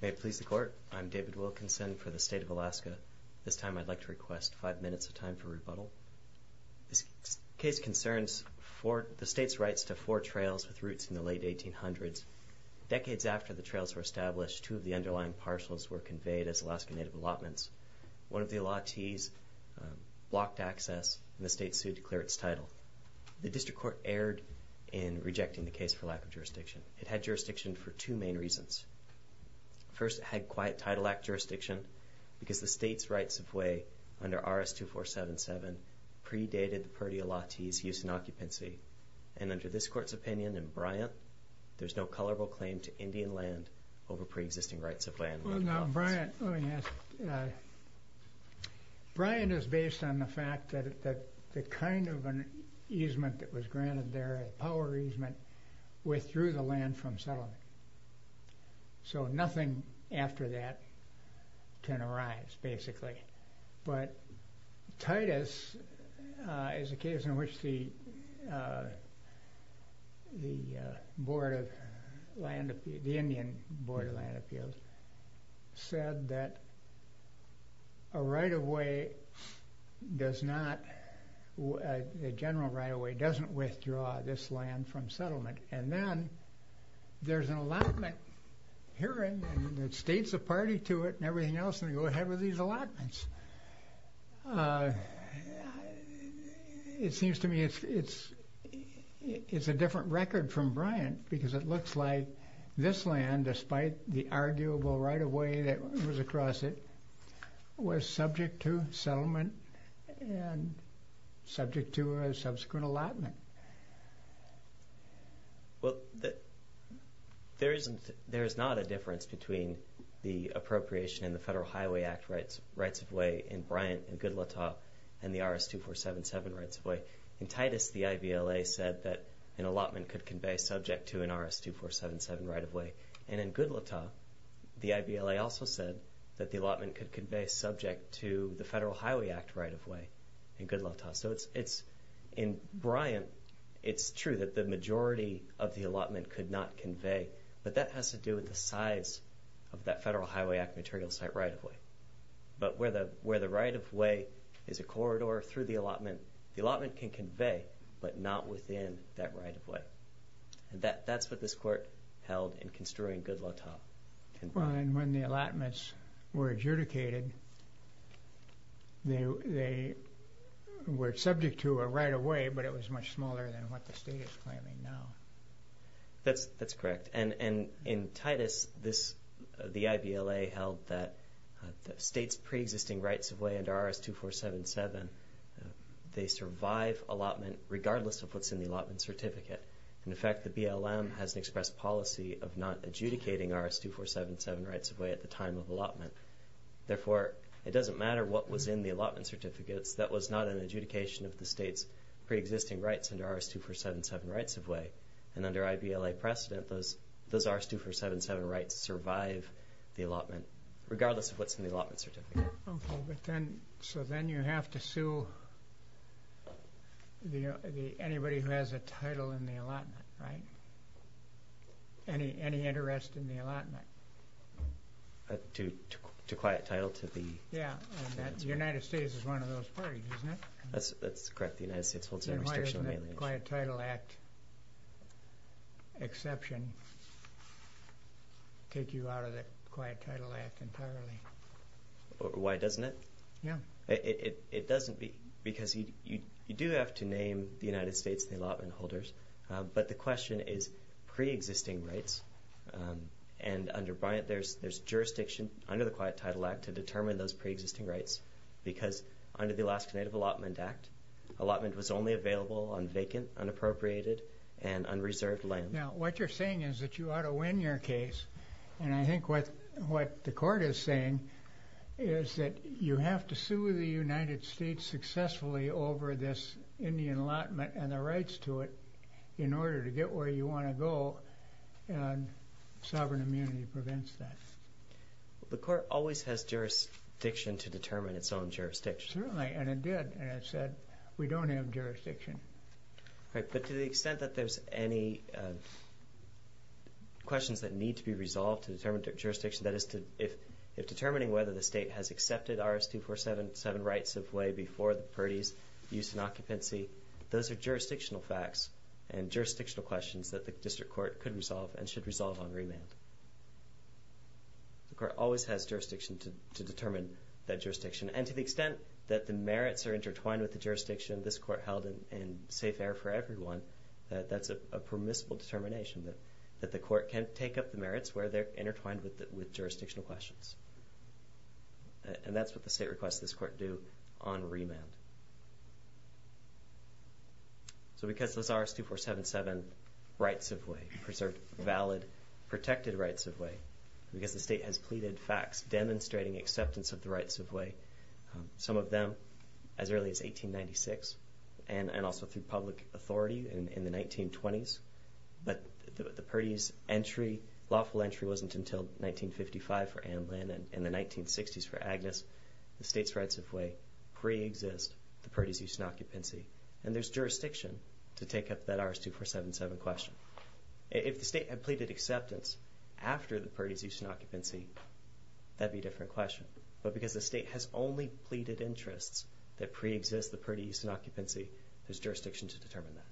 May it please the Court, I'm David Wilkinson for the State of Alaska. This time I'd like to request five minutes of time for rebuttal. This case concerns the state's rights to four trails with routes in the late 1800s. Decades after the trails were established, two of the underlying parcels were conveyed as Alaska Native allotments. One of the allottees blocked access and the state sued to clear its title. The District Court erred in rejecting the case for lack of jurisdiction. It had jurisdiction for two main reasons. First, it had quiet title act jurisdiction because the state's rights-of-way under RS-2477 predated the purdial allottees' use in occupancy. And under this court's opinion in Bryant, there's no colorable claim to Indian kind of an easement that was granted there, a power easement, withdrew the land from settlement. So nothing after that can arise, basically. But Titus is a case in which the Indian Board of Land the general right-of-way doesn't withdraw this land from settlement. And then there's an allotment hearing and the state's a party to it and everything else and they go ahead with these allotments. It seems to me it's a different record from Bryant because it looks like this land, despite the subject to a subsequent allotment. Well, there is not a difference between the appropriation in the Federal Highway Act rights-of-way in Bryant and Goodlatte and the RS-2477 rights-of-way. In Titus, the IVLA said that an allotment could convey subject to an RS-2477 right-of-way. And in Goodlatte, the IVLA also said that the allotment could convey subject to the Federal Highway Act right-of-way in Goodlatte. So it's in Bryant, it's true that the majority of the allotment could not convey, but that has to do with the size of that Federal Highway Act material site right-of-way. But where the right-of-way is a corridor through the allotment, the allotment can convey, but not within that right-of-way. And that's what this Court held in construing Goodlatte. And when the allotments were adjudicated, they were subject to a right-of-way, but it was much smaller than what the State is claiming now. That's correct. And in Titus, this, the IVLA held that the State's pre-existing rights-of-way under RS-2477, they survive allotment regardless of what's in the allotment certificate. And in fact, the BLM has expressed policy of not adjudicating RS-2477 rights-of-way at the time of allotment. Therefore, it doesn't matter what was in the allotment certificates, that was not an adjudication of the State's pre-existing rights under RS-2477 rights-of-way. And under IVLA precedent, those RS-2477 rights survive the allotment regardless of what's in the allotment certificate. Okay, but then, so then you have to sue the, anybody who has a to quiet title to the... Yeah, the United States is one of those parties, isn't it? That's correct, the United States holds its own restriction on alienation. And why doesn't the Quiet Title Act exception take you out of the Quiet Title Act entirely? Why doesn't it? Yeah. It doesn't be, because you do have to name the United States and the allotment there's jurisdiction under the Quiet Title Act to determine those pre-existing rights. Because under the Alaska Native Allotment Act, allotment was only available on vacant, unappropriated, and unreserved land. Now, what you're saying is that you ought to win your case. And I think what the court is saying is that you have to sue the United States successfully over this Indian allotment and the rights to it The court always has jurisdiction to determine its own jurisdiction. Certainly, and it did, and it said we don't have jurisdiction. Right, but to the extent that there's any questions that need to be resolved to determine their jurisdiction, that is to, if determining whether the state has accepted RS-247 rights-of-way before the parties, use and occupancy, those are jurisdictional facts and jurisdictional questions that the district court could resolve and should resolve on remand. The court always has jurisdiction to determine that jurisdiction. And to the extent that the merits are intertwined with the jurisdiction this court held in safe air for everyone, that's a permissible determination that the court can take up the merits where they're intertwined with jurisdictional questions. And that's what the state requests this court do on remand. So because those RS-247 rights-of-way, preserved, valid, protected rights-of-way, because the state has pleaded facts demonstrating acceptance of the rights-of-way, some of them as early as 1896 and also through public authority in the 1920s, but the parties' entry, lawful entry, wasn't until 1955 for Anne Lynn and in the 1960s for Agnes, the state's rights-of-way pre-exists the parties' use and occupancy. And there's jurisdiction to take up that RS-247 question. If the state had pleaded acceptance after the parties' use and occupancy, that would be a different question. But because the state has only pleaded interests that pre-exist the parties' use and occupancy, there's jurisdiction to determine that.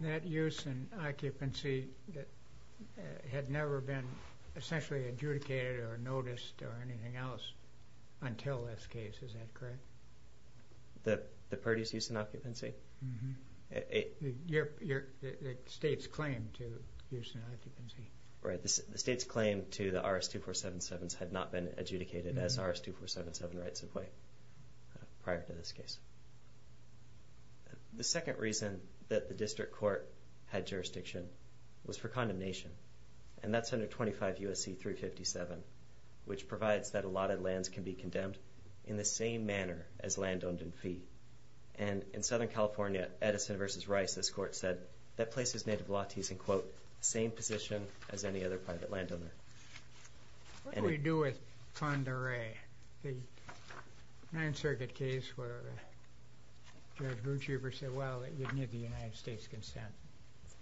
That use and occupancy had never been essentially adjudicated or noticed or anything else until this case. Is that correct? The parties' use and occupancy? Mm-hmm. The state's claim to use and occupancy. Right. The state's claim to the RS-2477s had not been adjudicated as RS-2477 rights-of-way prior to this case. The second reason that the district court had jurisdiction was for condemnation, and that's under 25 U.S.C. 357, which provides that allotted lands can be as any other private landowner. What do we do with Pend Oreille? The Ninth Circuit case where Judge Grutschiefer said, well, it wouldn't get the United States' consent.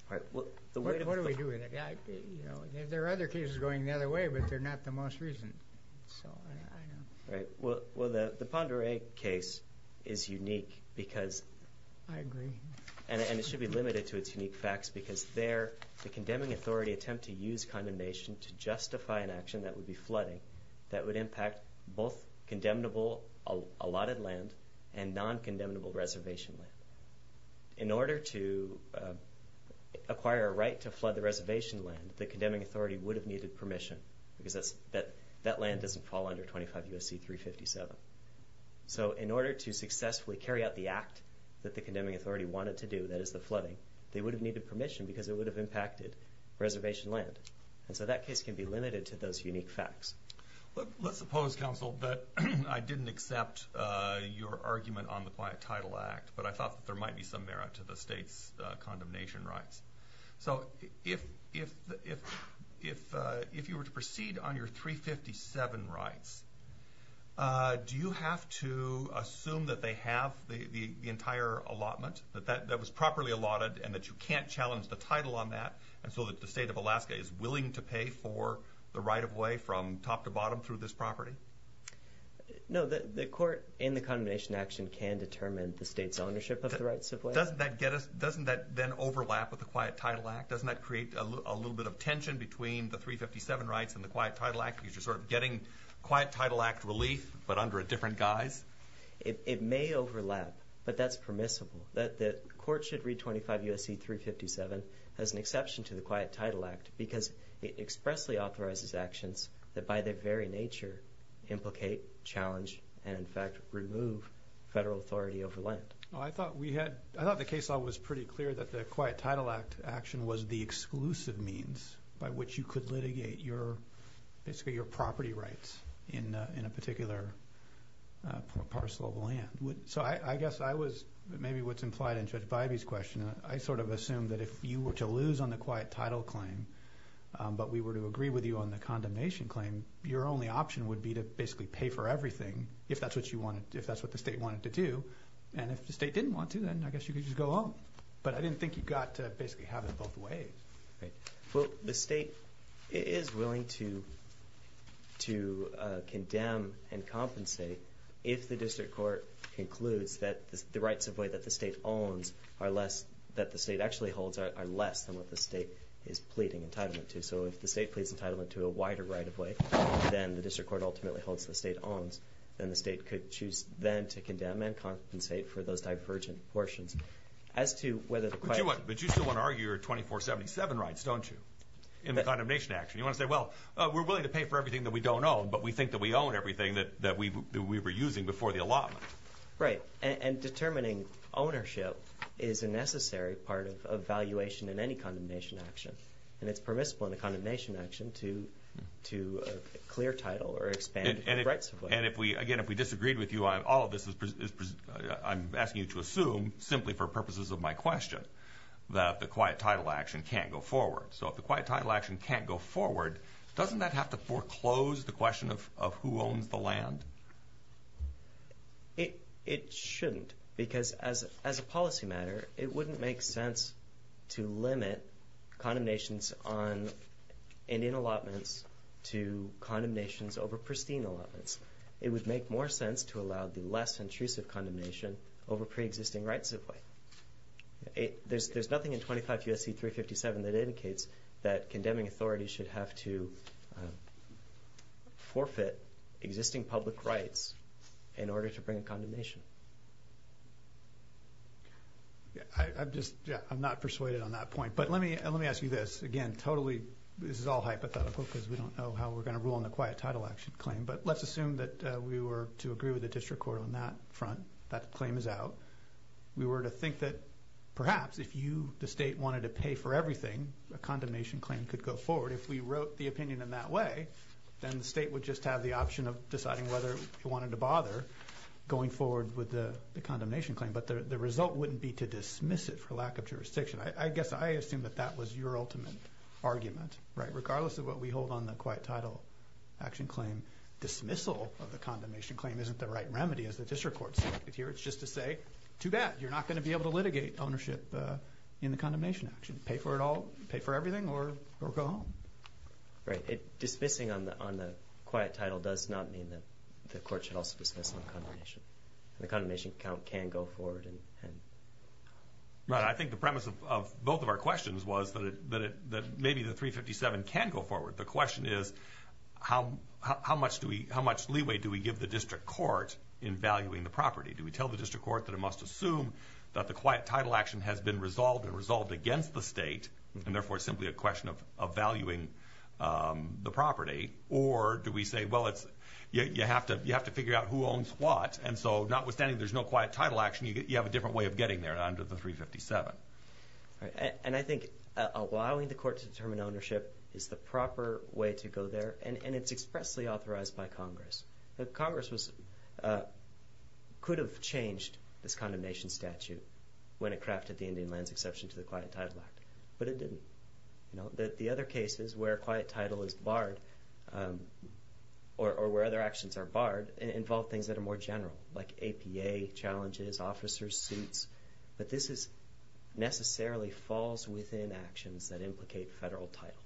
What do we do with it? There are other cases going the other way, but they're not the most recent. Right. Well, the Pend Oreille case is unique because... I agree. ...and it should be limited to its unique facts because there the condemning authority attempt to use condemnation to justify an action that would be flooding that would impact both condemnable allotted land and non-condemnable reservation land. In order to acquire a right to flood the reservation land, the condemning authority would have needed permission because that land doesn't fall under 25 U.S.C. 357. So in order to successfully carry out the act that the condemning authority wanted to do, that is the flooding, they would have needed permission because it would have impacted reservation land. And so that case can be limited to those unique facts. Let's suppose, counsel, that I didn't accept your argument on the Quiet Title Act, but I thought that there might be some merit to the state's condemnation rights. So if you were to proceed on your 357 rights, do you have to assume that they have the entire allotment, that that was properly allotted and that you can't challenge the title on that, and so that the state of Alaska is willing to pay for the right-of-way from top to bottom through this property? No, the court in the condemnation action can determine the state's ownership of the right-of-way. Doesn't that then overlap with the Quiet Title Act? Doesn't that create a little bit of tension between the 357 rights and the Quiet Title Act because you're sort of getting Quiet Title Act relief but under a different guise? It may overlap, but that's permissible. The court should read 25 U.S.C. 357 as an exception to the Quiet Title Act because it expressly authorizes actions that by their very nature implicate, challenge, and in fact remove federal authority over land. I thought the case law was pretty clear that the Quiet Title Act action was the exclusive means by which you could litigate basically your property rights in a particular parcel of land. So I guess maybe what's implied in Judge Bybee's question, I sort of assume that if you were to lose on the Quiet Title claim but we were to agree with you on the condemnation claim, your only option would be to basically pay for everything if that's what the state wanted to do, and if the state didn't want to, then I guess you could just go home. But I didn't think you got to basically have it both ways. Well, the state is willing to condemn and compensate if the district court concludes that the rights of way that the state owns are less, that the state actually holds are less than what the state is pleading entitlement to. So if the state pleads entitlement to a wider right of way than the district court ultimately holds the state owns, then the state could choose then to condemn and compensate for those divergent portions. But you still want to argue your 24-77 rights, don't you, in the condemnation action? You want to say, well, we're willing to pay for everything that we don't own, but we think that we own everything that we were using before the allotment. Right, and determining ownership is a necessary part of evaluation in any condemnation action, and it's permissible in a condemnation action to clear title or expand rights of way. And again, if we disagreed with you on all of this, I'm asking you to assume, simply for purposes of my question, that the quiet title action can't go forward. So if the quiet title action can't go forward, doesn't that have to foreclose the question of who owns the land? It shouldn't, because as a policy matter, it wouldn't make sense to limit condemnations on Indian allotments to condemnations over pristine allotments. It would make more sense to allow the less intrusive condemnation over preexisting rights of way. There's nothing in 25 U.S.C. 357 that indicates that condemning authorities should have to forfeit existing public rights in order to bring a condemnation. I'm not persuaded on that point, but let me ask you this. Again, totally, this is all hypothetical because we don't know how we're going to rule on the quiet title action claim. But let's assume that we were to agree with the district court on that front. That claim is out. We were to think that perhaps if you, the state, wanted to pay for everything, a condemnation claim could go forward. If we wrote the opinion in that way, then the state would just have the option of deciding whether it wanted to bother going forward with the condemnation claim. But the result wouldn't be to dismiss it for lack of jurisdiction. I guess I assume that that was your ultimate argument. Regardless of what we hold on the quiet title action claim, dismissal of the condemnation claim isn't the right remedy, as the district court said here. It's just to say, too bad, you're not going to be able to litigate ownership in the condemnation action. Pay for it all, pay for everything, or go home. Right. Dismissing on the quiet title does not mean that the court should also dismiss on condemnation. The condemnation account can go forward. Right. I think the premise of both of our questions was that maybe the 357 can go forward. The question is, how much leeway do we give the district court in valuing the property? Do we tell the district court that it must assume that the quiet title action has been resolved and resolved against the state, and therefore simply a question of valuing the property? Or do we say, well, you have to figure out who owns what, and so notwithstanding there's no quiet title action, you have a different way of getting there under the 357. And I think allowing the court to determine ownership is the proper way to go there, and it's expressly authorized by Congress. Congress could have changed this condemnation statute when it crafted the Indian lands exception to the Quiet Title Act, but it didn't. The other cases where quiet title is barred, or where other actions are barred, involve things that are more general, like APA challenges, officers' suits. But this necessarily falls within actions that implicate federal title,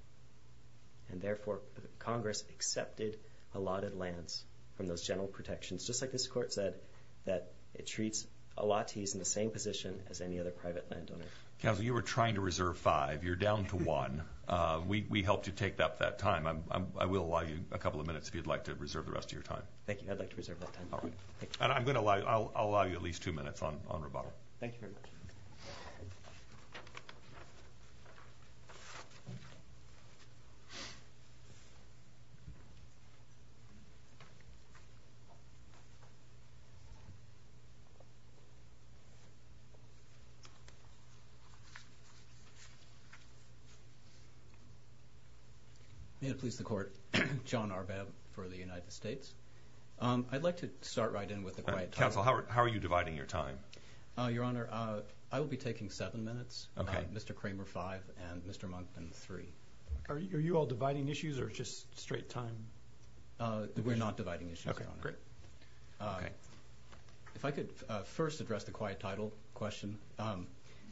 and therefore Congress accepted allotted lands from those general protections, just like this court said that it treats allottees in the same position as any other private landowner. Counsel, you were trying to reserve five. You're down to one. We helped you take up that time. I will allow you a couple of minutes if you'd like to reserve the rest of your time. Thank you. I'd like to reserve that time. And I'm going to allow you at least two minutes on rebuttal. Thank you very much. Thank you. May it please the Court. John Arbab for the United States. I'd like to start right in with the quiet title. Counsel, how are you dividing your time? Your Honor, I will be taking seven minutes, Mr. Kramer five and Mr. Monkman three. Are you all dividing issues or just straight time? We're not dividing issues, Your Honor. Okay, great. If I could first address the quiet title question.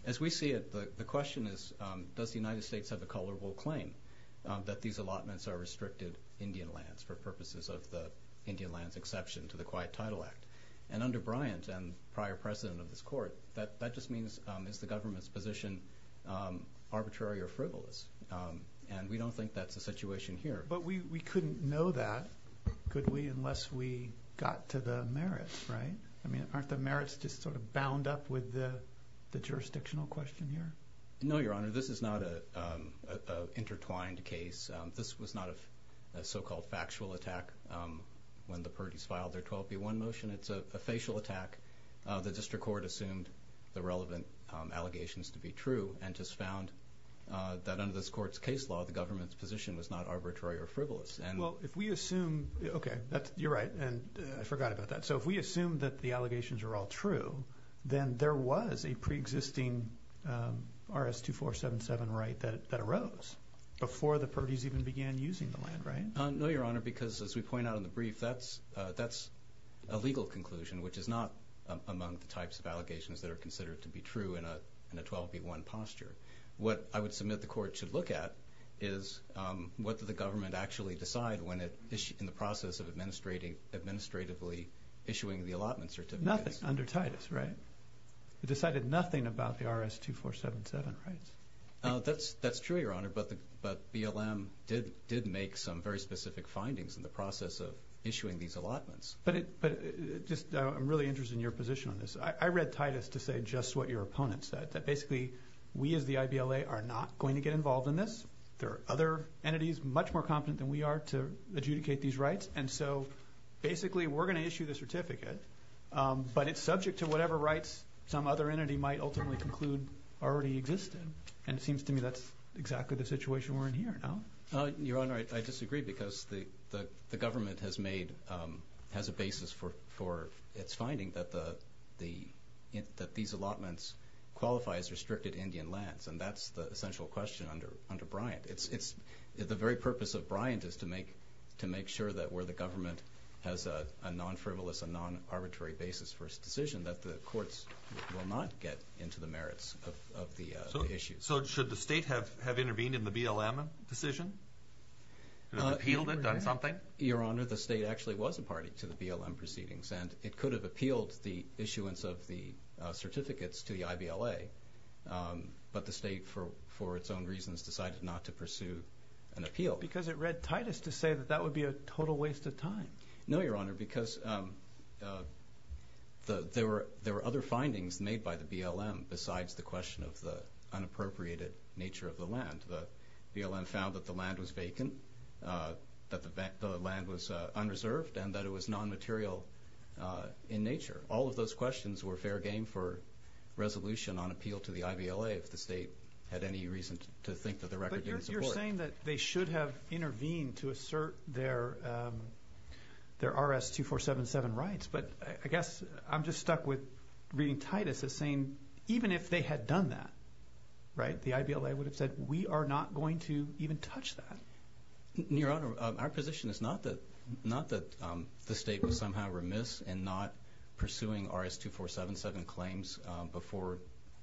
As we see it, the question is, does the United States have a colorable claim that these allotments are restricted Indian lands for purposes of the Indian lands exception to the Quiet Title Act? And under Bryant and prior president of this court, that just means is the government's position arbitrary or frivolous? And we don't think that's the situation here. But we couldn't know that, could we, unless we got to the merits, right? I mean, aren't the merits just sort of bound up with the jurisdictional question here? No, Your Honor. This is not an intertwined case. This was not a so-called factual attack when the parties filed their 12B1 motion. It's a facial attack. The district court assumed the relevant allegations to be true and just found that under this court's case law the government's position was not arbitrary or frivolous. Well, if we assume, okay, you're right, and I forgot about that. So if we assume that the allegations are all true, then there was a preexisting RS-2477 right that arose before the parties even began using the land, right? No, Your Honor, because as we point out in the brief, that's a legal conclusion, which is not among the types of allegations that are considered to be true in a 12B1 posture. What I would submit the court should look at is what did the government actually decide in the process of administratively issuing the allotment certificates. Nothing under Titus, right? It decided nothing about the RS-2477 rights. That's true, Your Honor, but BLM did make some very specific findings in the process of issuing these allotments. But I'm really interested in your position on this. I read Titus to say just what your opponent said, that basically we as the IBLA are not going to get involved in this. There are other entities much more competent than we are to adjudicate these rights, and so basically we're going to issue the certificate, but it's subject to whatever rights some other entity might ultimately conclude already existed, and it seems to me that's exactly the situation we're in here now. Your Honor, I disagree because the government has a basis for its finding that these allotments qualify as restricted Indian lands, and that's the essential question under Bryant. The very purpose of Bryant is to make sure that where the government has a non-frivolous, a non-arbitrary basis for its decision that the courts will not get into the merits of the issues. So should the state have intervened in the BLM decision? Appealed it, done something? Your Honor, the state actually was a party to the BLM proceedings, and it could have appealed the issuance of the certificates to the IBLA, but the state, for its own reasons, decided not to pursue an appeal. Because it read tightest to say that that would be a total waste of time. No, Your Honor, because there were other findings made by the BLM besides the question of the unappropriated nature of the land. The BLM found that the land was vacant, that the land was unreserved, and that it was non-material in nature. All of those questions were fair game for resolution on appeal to the IBLA if the state had any reason to think that the record didn't support it. But you're saying that they should have intervened to assert their RS-2477 rights, but I guess I'm just stuck with reading tightest as saying even if they had done that, right, the IBLA would have said we are not going to even touch that. Your Honor, our position is not that the state was somehow remiss in not pursuing RS-2477 claims before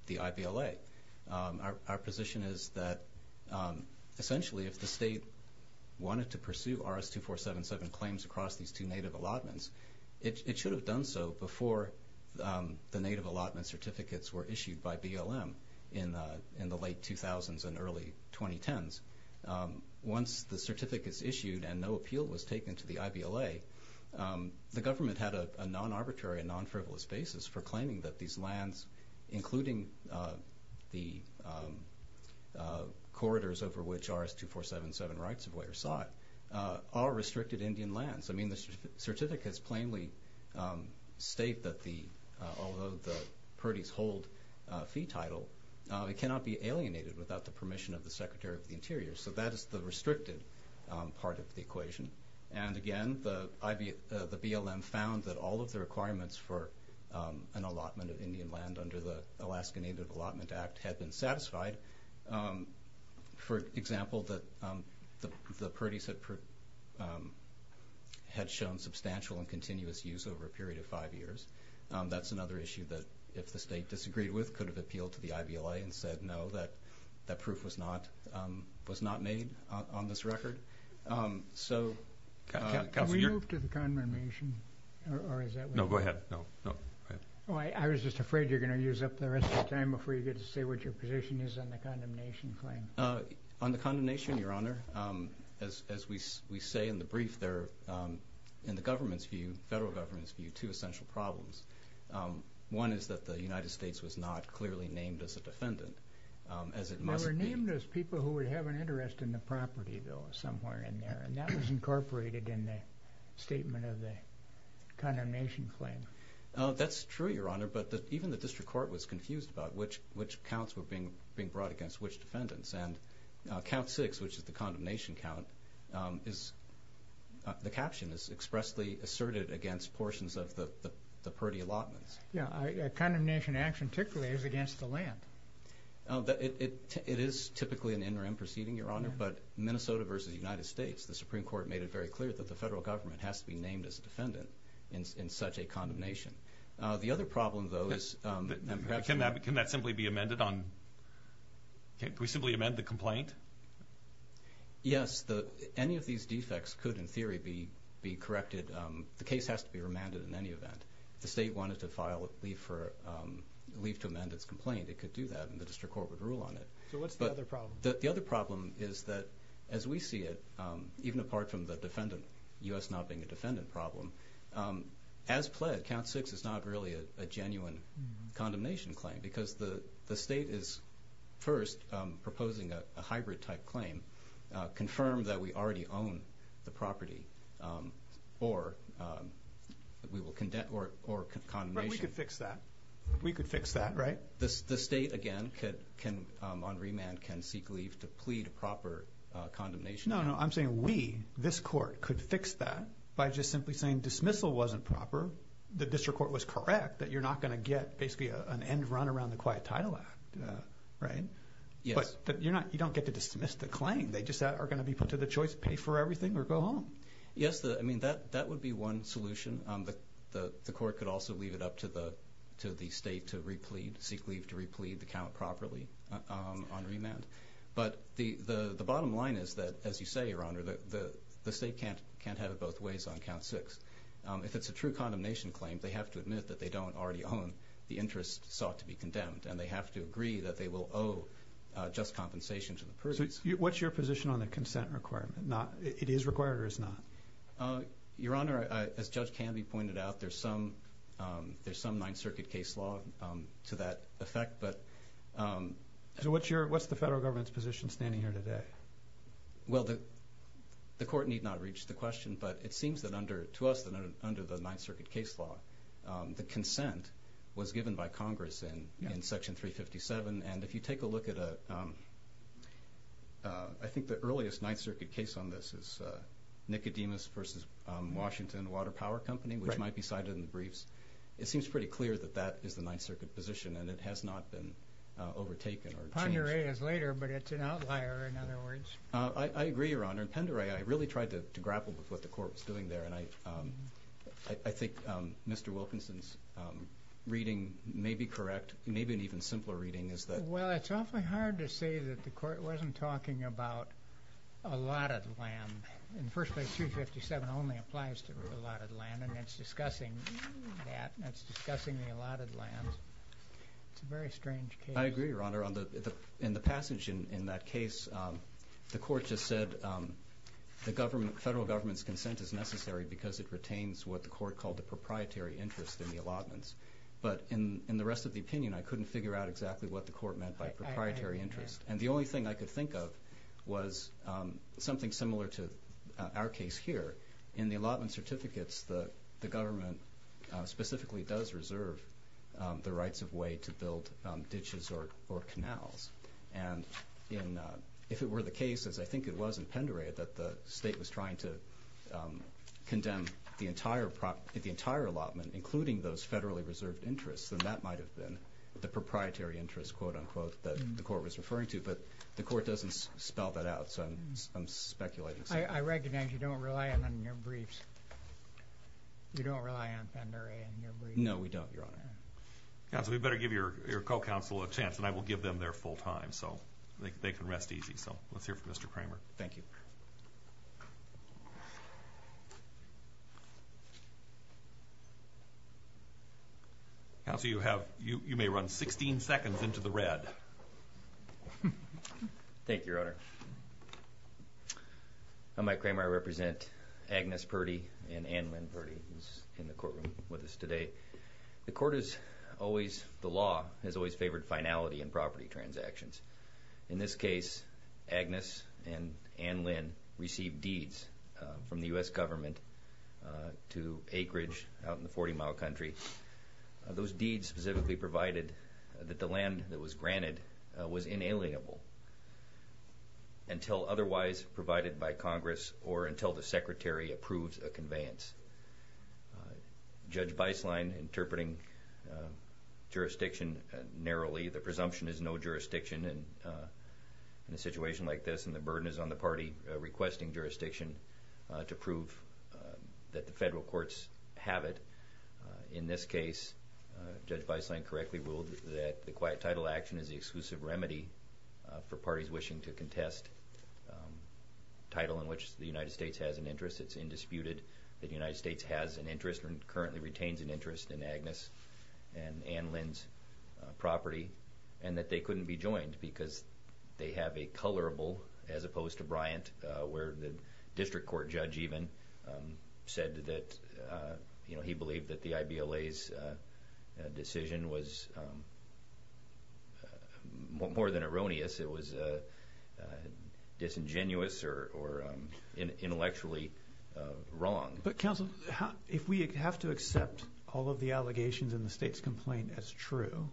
the IBLA. Our position is that essentially if the state wanted to pursue RS-2477 claims across these two native allotments, it should have done so before the native allotment certificates were issued by BLM in the late 2000s and early 2010s. Once the certificate is issued and no appeal was taken to the IBLA, the government had a non-arbitrary and non-frivolous basis for claiming that these lands, including the corridors over which RS-2477 rights were sought, are restricted Indian lands. I mean, the certificate has plainly stated that although the parties hold fee title, it cannot be alienated without the permission of the Secretary of the Interior. So that is the restricted part of the equation. And again, the BLM found that all of the requirements for an allotment of Indian land under the Alaska Native Allotment Act had been satisfied. For example, the parties had shown substantial and continuous use over a period of five years. That's another issue that if the state disagreed with, could have appealed to the IBLA and said no, that proof was not made on this record. Can we move to the condemnation? No, go ahead. I was just afraid you were going to use up the rest of the time before you get to say what your position is on the condemnation claim. On the condemnation, Your Honor, as we say in the brief there, in the government's view, federal government's view, two essential problems. One is that the United States was not clearly named as a defendant, as it must be. They were named as people who would have an interest in the property bill somewhere in there, and that was incorporated in the statement of the condemnation claim. That's true, Your Honor, but even the district court was confused about which counts were being brought against which defendants. Count 6, which is the condemnation count, the caption is expressly asserted against portions of the purty allotments. Condemnation action typically is against the land. It is typically an interim proceeding, Your Honor, but Minnesota versus the United States, the Supreme Court made it very clear that the federal government has to be named as a defendant in such a condemnation. The other problem, though, is that perhaps can that simply be amended on? Can we simply amend the complaint? Yes, any of these defects could, in theory, be corrected. The case has to be remanded in any event. If the state wanted to leave to amend its complaint, it could do that, and the district court would rule on it. So what's the other problem? The other problem is that, as we see it, even apart from the defendant, U.S. not being a defendant problem, as pled, Count 6 is not really a genuine condemnation claim because the state is first proposing a hybrid-type claim, confirm that we already own the property or condemnation. But we could fix that. We could fix that, right? The state, again, on remand, can seek leave to plead proper condemnation. No, no, I'm saying we, this court, could fix that by just simply saying dismissal wasn't proper, the district court was correct, that you're not going to get basically an end run around the Quiet Title Act, right? Yes. But you don't get to dismiss the claim. They just are going to be put to the choice, pay for everything or go home. Yes, I mean, that would be one solution. The court could also leave it up to the state to replead, seek leave to replead the count properly on remand. But the bottom line is that, as you say, Your Honor, the state can't have it both ways on Count 6. If it's a true condemnation claim, they have to admit that they don't already own the interest sought to be condemned, and they have to agree that they will owe just compensation to the person. So what's your position on the consent requirement? It is required or is not? Your Honor, as Judge Canby pointed out, there's some Ninth Circuit case law to that effect. So what's the federal government's position standing here today? Well, the court need not reach the question, but it seems to us that under the Ninth Circuit case law, the consent was given by Congress in Section 357. And if you take a look at I think the earliest Ninth Circuit case on this is Nicodemus v. Washington Water Power Company, which might be cited in the briefs, it seems pretty clear that that is the Ninth Circuit position, and it has not been overtaken or changed. Pendere is later, but it's an outlier, in other words. I agree, Your Honor. In Pendere, I really tried to grapple with what the court was doing there, and I think Mr. Wilkinson's reading may be correct, maybe an even simpler reading. Well, it's awfully hard to say that the court wasn't talking about allotted land. In the first place, 357 only applies to allotted land, and it's discussing that, and it's discussing the allotted land. It's a very strange case. I agree, Your Honor. In the passage in that case, the court just said the federal government's consent is necessary because it retains what the court called the proprietary interest in the allotments. But in the rest of the opinion, I couldn't figure out exactly what the court meant by proprietary interest. And the only thing I could think of was something similar to our case here. In the allotment certificates, the government specifically does reserve the rights of way to build ditches or canals. And if it were the case, as I think it was in Pendere, that the state was trying to condemn the entire allotment, including those federally reserved interests, then that might have been the proprietary interest, quote-unquote, that the court was referring to. But the court doesn't spell that out, so I'm speculating. I recognize you don't rely on your briefs. You don't rely on Pendere and your briefs. No, we don't, Your Honor. Counsel, we better give your co-counsel a chance, and I will give them their full time so they can rest easy. So let's hear from Mr. Kramer. Thank you. Counsel, you may run 16 seconds into the red. Thank you, Your Honor. I'm Mike Kramer. I represent Agnes Purdy and Ann Lynn Purdy, who's in the courtroom with us today. The court has always favored finality in property transactions. In this case, Agnes and Ann Lynn received deeds from the U.S. government to acreage out in the 40-mile country. Those deeds specifically provided that the land that was granted was inalienable until otherwise provided by Congress or until the Secretary approves a conveyance. Judge Beislein interpreting jurisdiction narrowly. The presumption is no jurisdiction in a situation like this, and the burden is on the party requesting jurisdiction to prove that the federal courts have it. In this case, Judge Beislein correctly ruled that the quiet title action is the exclusive remedy for parties wishing to contest a title in which the United States has an interest. It's indisputed that the United States has an interest and currently retains an interest in Agnes and Ann Lynn's property and that they couldn't be joined because they have a colorable, as opposed to Bryant, where the district court judge even said that he believed that the IBLA's decision was more than erroneous. It was disingenuous or intellectually wrong. But, counsel, if we have to accept all of the allegations in the state's complaint as true,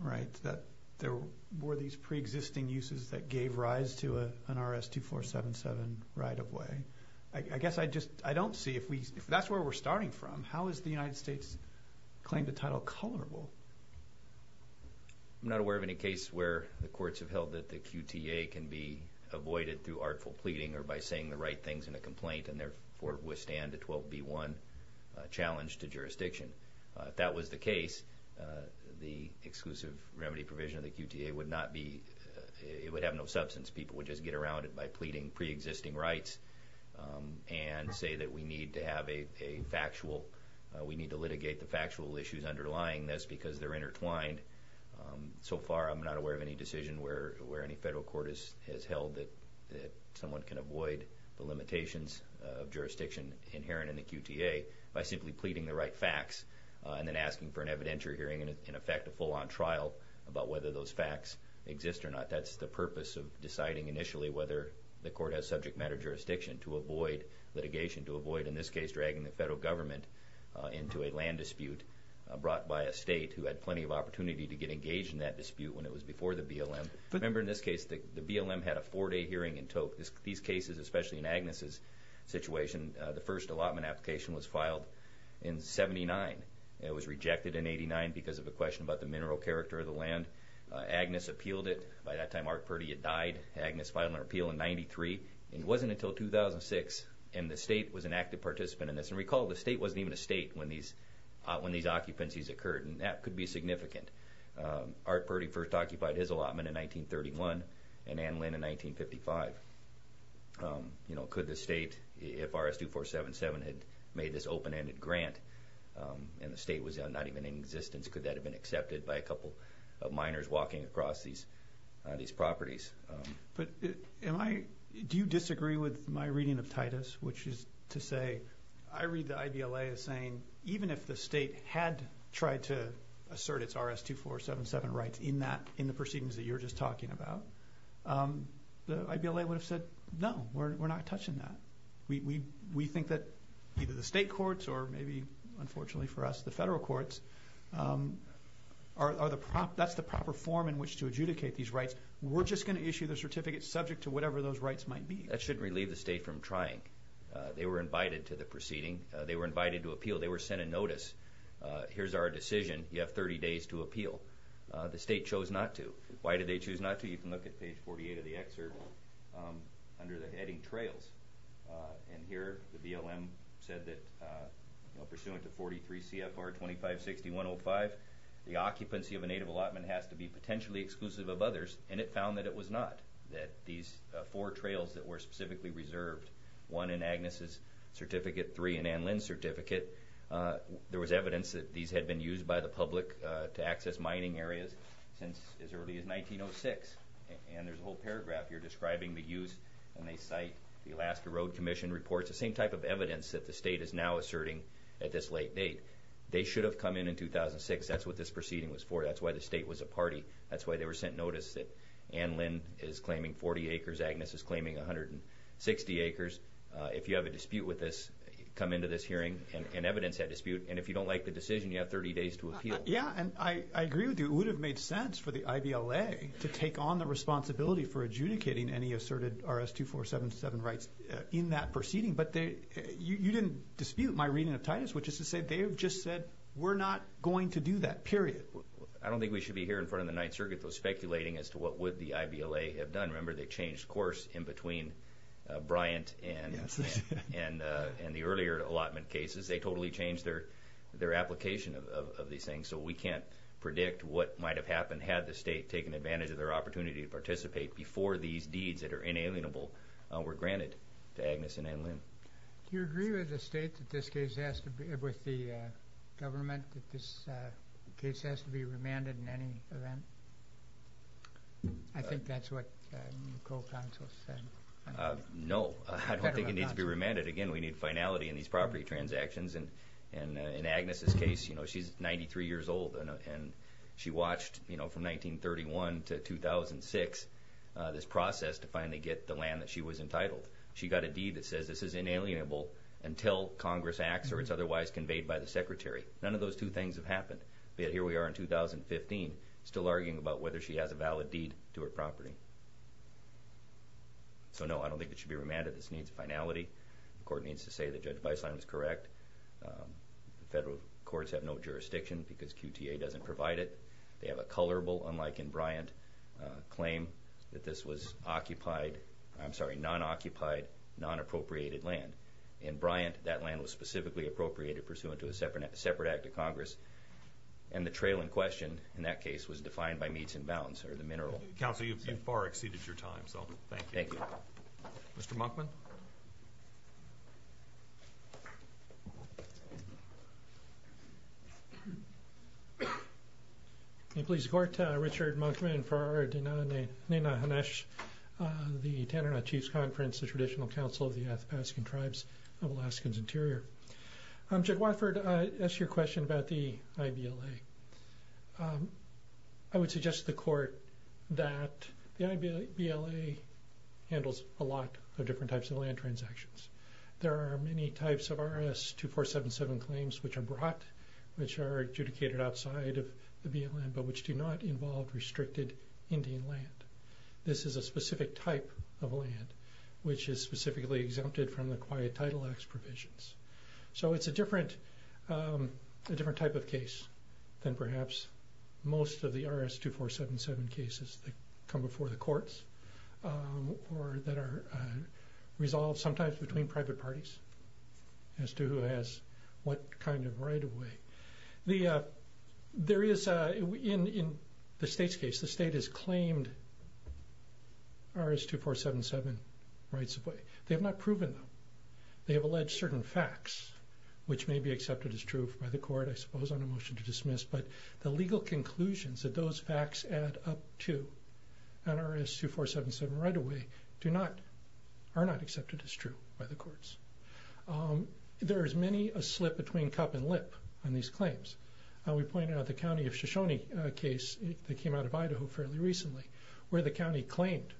right, that there were these preexisting uses that gave rise to an RS-2477 right-of-way, I guess I just don't see if that's where we're starting from. How is the United States' claim to title colorable? I'm not aware of any case where the courts have held that the QTA can be avoided through artful pleading or by saying the right things in a complaint and therefore withstand a 12B1 challenge to jurisdiction. If that was the case, the exclusive remedy provision of the QTA would not be, it would have no substance. People would just get around it by pleading preexisting rights and say that we need to have a factual, we need to litigate the factual issues underlying this because they're intertwined. So far, I'm not aware of any decision where any federal court has held that someone can avoid the limitations of jurisdiction inherent in the QTA by simply pleading the right facts and then asking for an evidentiary hearing and, in effect, a full-on trial about whether those facts exist or not. That's the purpose of deciding initially whether the court has subject matter jurisdiction, to avoid litigation, to avoid, in this case, dragging the federal government into a land dispute brought by a state who had plenty of opportunity to get engaged in that dispute when it was before the BLM. Remember, in this case, the BLM had a four-day hearing in Tocque. These cases, especially in Agnes' situation, the first allotment application was filed in 79. It was rejected in 89 because of a question about the mineral character of the land. Agnes appealed it. By that time, Art Purdy had died. Agnes filed an appeal in 93, and it wasn't until 2006, and the state was an active participant in this. And recall, the state wasn't even a state when these occupancies occurred, and that could be significant. Art Purdy first occupied his allotment in 1931 and Ann Lynn in 1955. Could the state, if RS-2477 had made this open-ended grant and the state was not even in existence, could that have been accepted by a couple of miners walking across these properties? Do you disagree with my reading of Titus, which is to say I read the IBLA as saying, even if the state had tried to assert its RS-2477 rights in the proceedings that you're just talking about, the IBLA would have said, no, we're not touching that. We think that either the state courts or maybe, unfortunately for us, the federal courts, that's the proper form in which to adjudicate these rights. We're just going to issue the certificate subject to whatever those rights might be. That shouldn't relieve the state from trying. They were invited to the proceeding. They were invited to appeal. They were sent a notice. Here's our decision. You have 30 days to appeal. The state chose not to. Why did they choose not to? You can look at page 48 of the excerpt under the heading trails, and here the BLM said that pursuant to 43 CFR 2560.105, the occupancy of a native allotment has to be potentially exclusive of others, and it found that it was not, that these four trails that were specifically reserved, one in Agnes' Certificate III and Anne Lynn's Certificate, there was evidence that these had been used by the public to access mining areas since as early as 1906. And there's a whole paragraph here describing the use, and they cite the Alaska Road Commission reports, the same type of evidence that the state is now asserting at this late date. They should have come in in 2006. That's what this proceeding was for. That's why the state was a party. That's why they were sent notice that Anne Lynn is claiming 40 acres, Agnes is claiming 160 acres. If you have a dispute with this, come into this hearing and evidence that dispute, and if you don't like the decision, you have 30 days to appeal. Yeah, and I agree with you. It would have made sense for the IBLA to take on the responsibility for adjudicating any asserted RS-2477 rights in that proceeding, but you didn't dispute my reading of Titus, which is to say they have just said we're not going to do that, period. I don't think we should be here in front of the Ninth Circuit, though, speculating as to what would the IBLA have done. Remember, they changed course in between Bryant and the earlier allotment cases. They totally changed their application of these things, so we can't predict what might have happened had the state taken advantage of their opportunity to participate before these deeds that are inalienable were granted to Agnes and Anne Lynn. Do you agree with the government that this case has to be remanded in any event? I think that's what the co-counsel said. No, I don't think it needs to be remanded. Again, we need finality in these property transactions. In Agnes' case, she's 93 years old, and she watched from 1931 to 2006 this process to finally get the land that she was entitled. She got a deed that says this is inalienable until Congress acts or it's otherwise conveyed by the Secretary. None of those two things have happened. Yet here we are in 2015 still arguing about whether she has a valid deed to her property. So, no, I don't think it should be remanded. This needs finality. The court needs to say that Judge Weisslein was correct. The federal courts have no jurisdiction because QTA doesn't provide it. They have a colorable, unlike in Bryant, claim that this was non-occupied, non-appropriated land. In Bryant, that land was specifically appropriated pursuant to a separate act of Congress, and the trail in question in that case was defined by Meats and Bounds, or the mineral. Counsel, you've far exceeded your time, so thank you. Thank you. Mr. Monkman? May it please the Court, Richard Monkman, and Farah Dinahanesh, the Tanana Chiefs Conference, the Traditional Council of the Athapaskan Tribes of Alaskan's Interior. Judge Watford, I asked you a question about the IBLA. I would suggest to the Court that the IBLA handles a lot of different types of land transactions. There are many types of RS-2477 claims which are brought, which are adjudicated outside of the BLM, but which do not involve restricted Indian land. This is a specific type of land which is specifically exempted from the Quiet Title Act's provisions. So it's a different type of case than perhaps most of the RS-2477 cases that come before the courts or that are resolved sometimes between private parties as to who has what kind of right of way. There is, in the State's case, the State has claimed RS-2477 rights of way. They have not proven them. They have alleged certain facts, which may be accepted as true by the court, I suppose, on a motion to dismiss, but the legal conclusions that those facts add up to on RS-2477 right of way are not accepted as true by the courts. There is many a slip between cup and lip on these claims. We pointed out the county of Shoshone case that came out of Idaho fairly recently, where the county claimed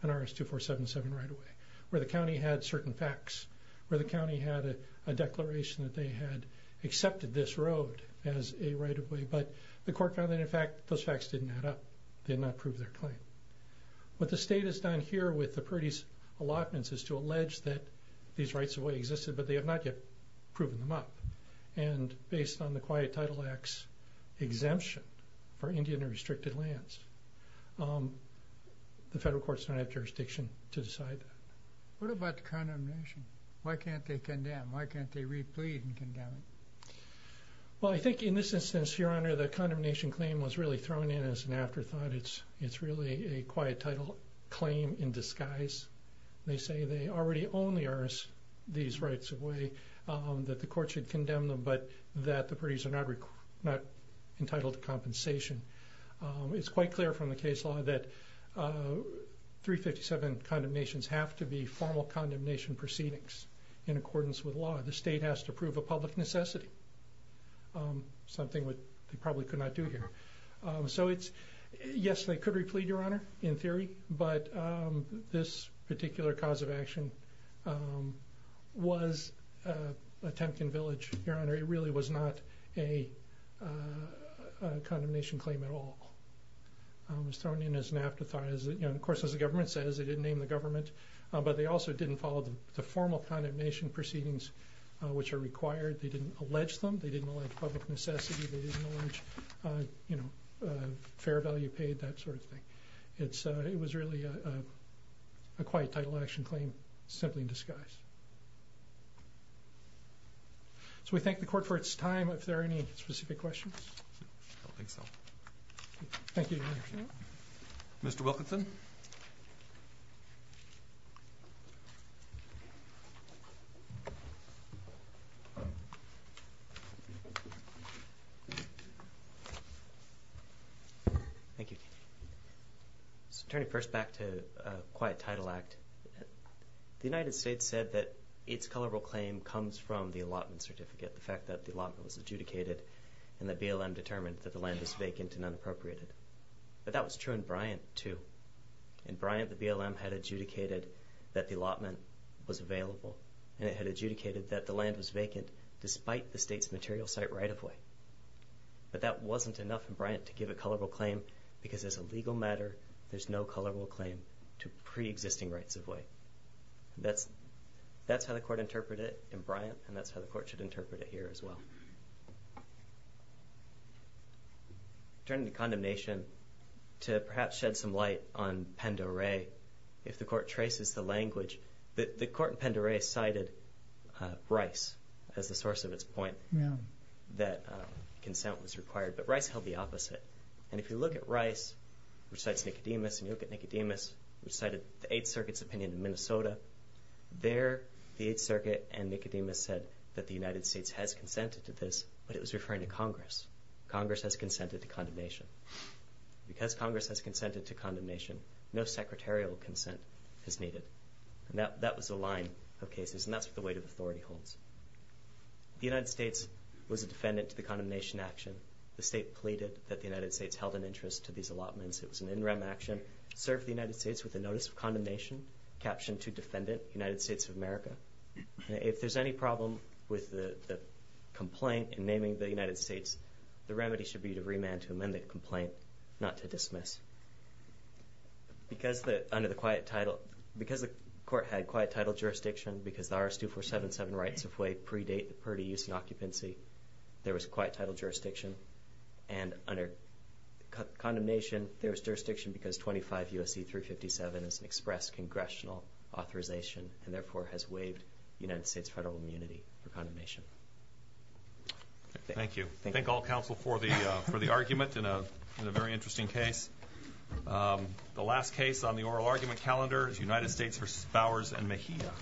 an RS-2477 right of way, where the county had certain facts, where the county had a declaration that they had accepted this road as a right of way, but the court found that, in fact, those facts didn't add up. They did not prove their claim. What the State has done here with the Purdy's allotments is to allege that these rights of way existed, but they have not yet proven them up. And based on the Quiet Title Act's exemption for Indian and restricted lands, the federal courts don't have jurisdiction to decide that. What about the condemnation? Why can't they condemn? Why can't they replead and condemn it? Well, I think in this instance, Your Honor, the condemnation claim was really thrown in as an afterthought. It's really a quiet title claim in disguise. They say they already own the RS, these rights of way, that the court should condemn them, but that the Purdy's are not entitled to compensation. It's quite clear from the case law that 357 condemnations have to be formal condemnation proceedings in accordance with law. The State has to prove a public necessity, something they probably could not do here. So yes, they could replead, Your Honor, in theory, but this particular cause of action was a Temkin village, Your Honor. It really was not a condemnation claim at all. It was thrown in as an afterthought. Of course, as the government says, they didn't name the government, but they also didn't follow the formal condemnation proceedings which are required. They didn't allege them. They didn't allege public necessity. They didn't allege fair value paid, that sort of thing. It was really a quiet title action claim simply in disguise. So we thank the Court for its time. Are there any specific questions? Thank you, Your Honor. Mr. Wilkinson. Thank you. So turning first back to quiet title act, the United States said that its colorable claim comes from the allotment certificate, the fact that the allotment was adjudicated and that BLM determined that the land was vacant and unappropriated. But that was true in Bryant, too. In Bryant, the BLM had adjudicated that the allotment was available, and it had adjudicated that the land was vacant despite the state's material site right-of-way. But that wasn't enough in Bryant to give a colorable claim because as a legal matter, there's no colorable claim to preexisting rights-of-way. That's how the Court interpreted it in Bryant, and that's how the Court should interpret it here as well. Turning to condemnation, to perhaps shed some light on Pend Oreille, if the Court traces the language, the Court in Pend Oreille cited Rice as the source of its point that consent was required, but Rice held the opposite. And if you look at Rice, which cites Nicodemus, and you look at Nicodemus, which cited the Eighth Circuit's opinion in Minnesota, there the Eighth Circuit and Nicodemus said that the United States has consented to this, but it was referring to Congress. Congress has consented to condemnation. Because Congress has consented to condemnation, no secretarial consent is needed. And that was the line of cases, and that's what the weight of authority holds. The United States was a defendant to the condemnation action. The state pleaded that the United States held an interest to these allotments. It was an in-rem action, served the United States with a notice of condemnation, captioned to Defendant, United States of America. If there's any problem with the complaint in naming the United States, the remedy should be to remand to amend the complaint, not to dismiss. Because the Court had quiet title jurisdiction, because the RS-2477 rights-of-way predate the Purdy use and occupancy, there was quiet title jurisdiction. And under condemnation, there was jurisdiction because 25 U.S.C. 357 is an express congressional authorization and therefore has waived United States federal immunity for condemnation. Thank you. Thank all counsel for the argument in a very interesting case. The last case on the oral argument calendar is United States v. Bowers and Mejia.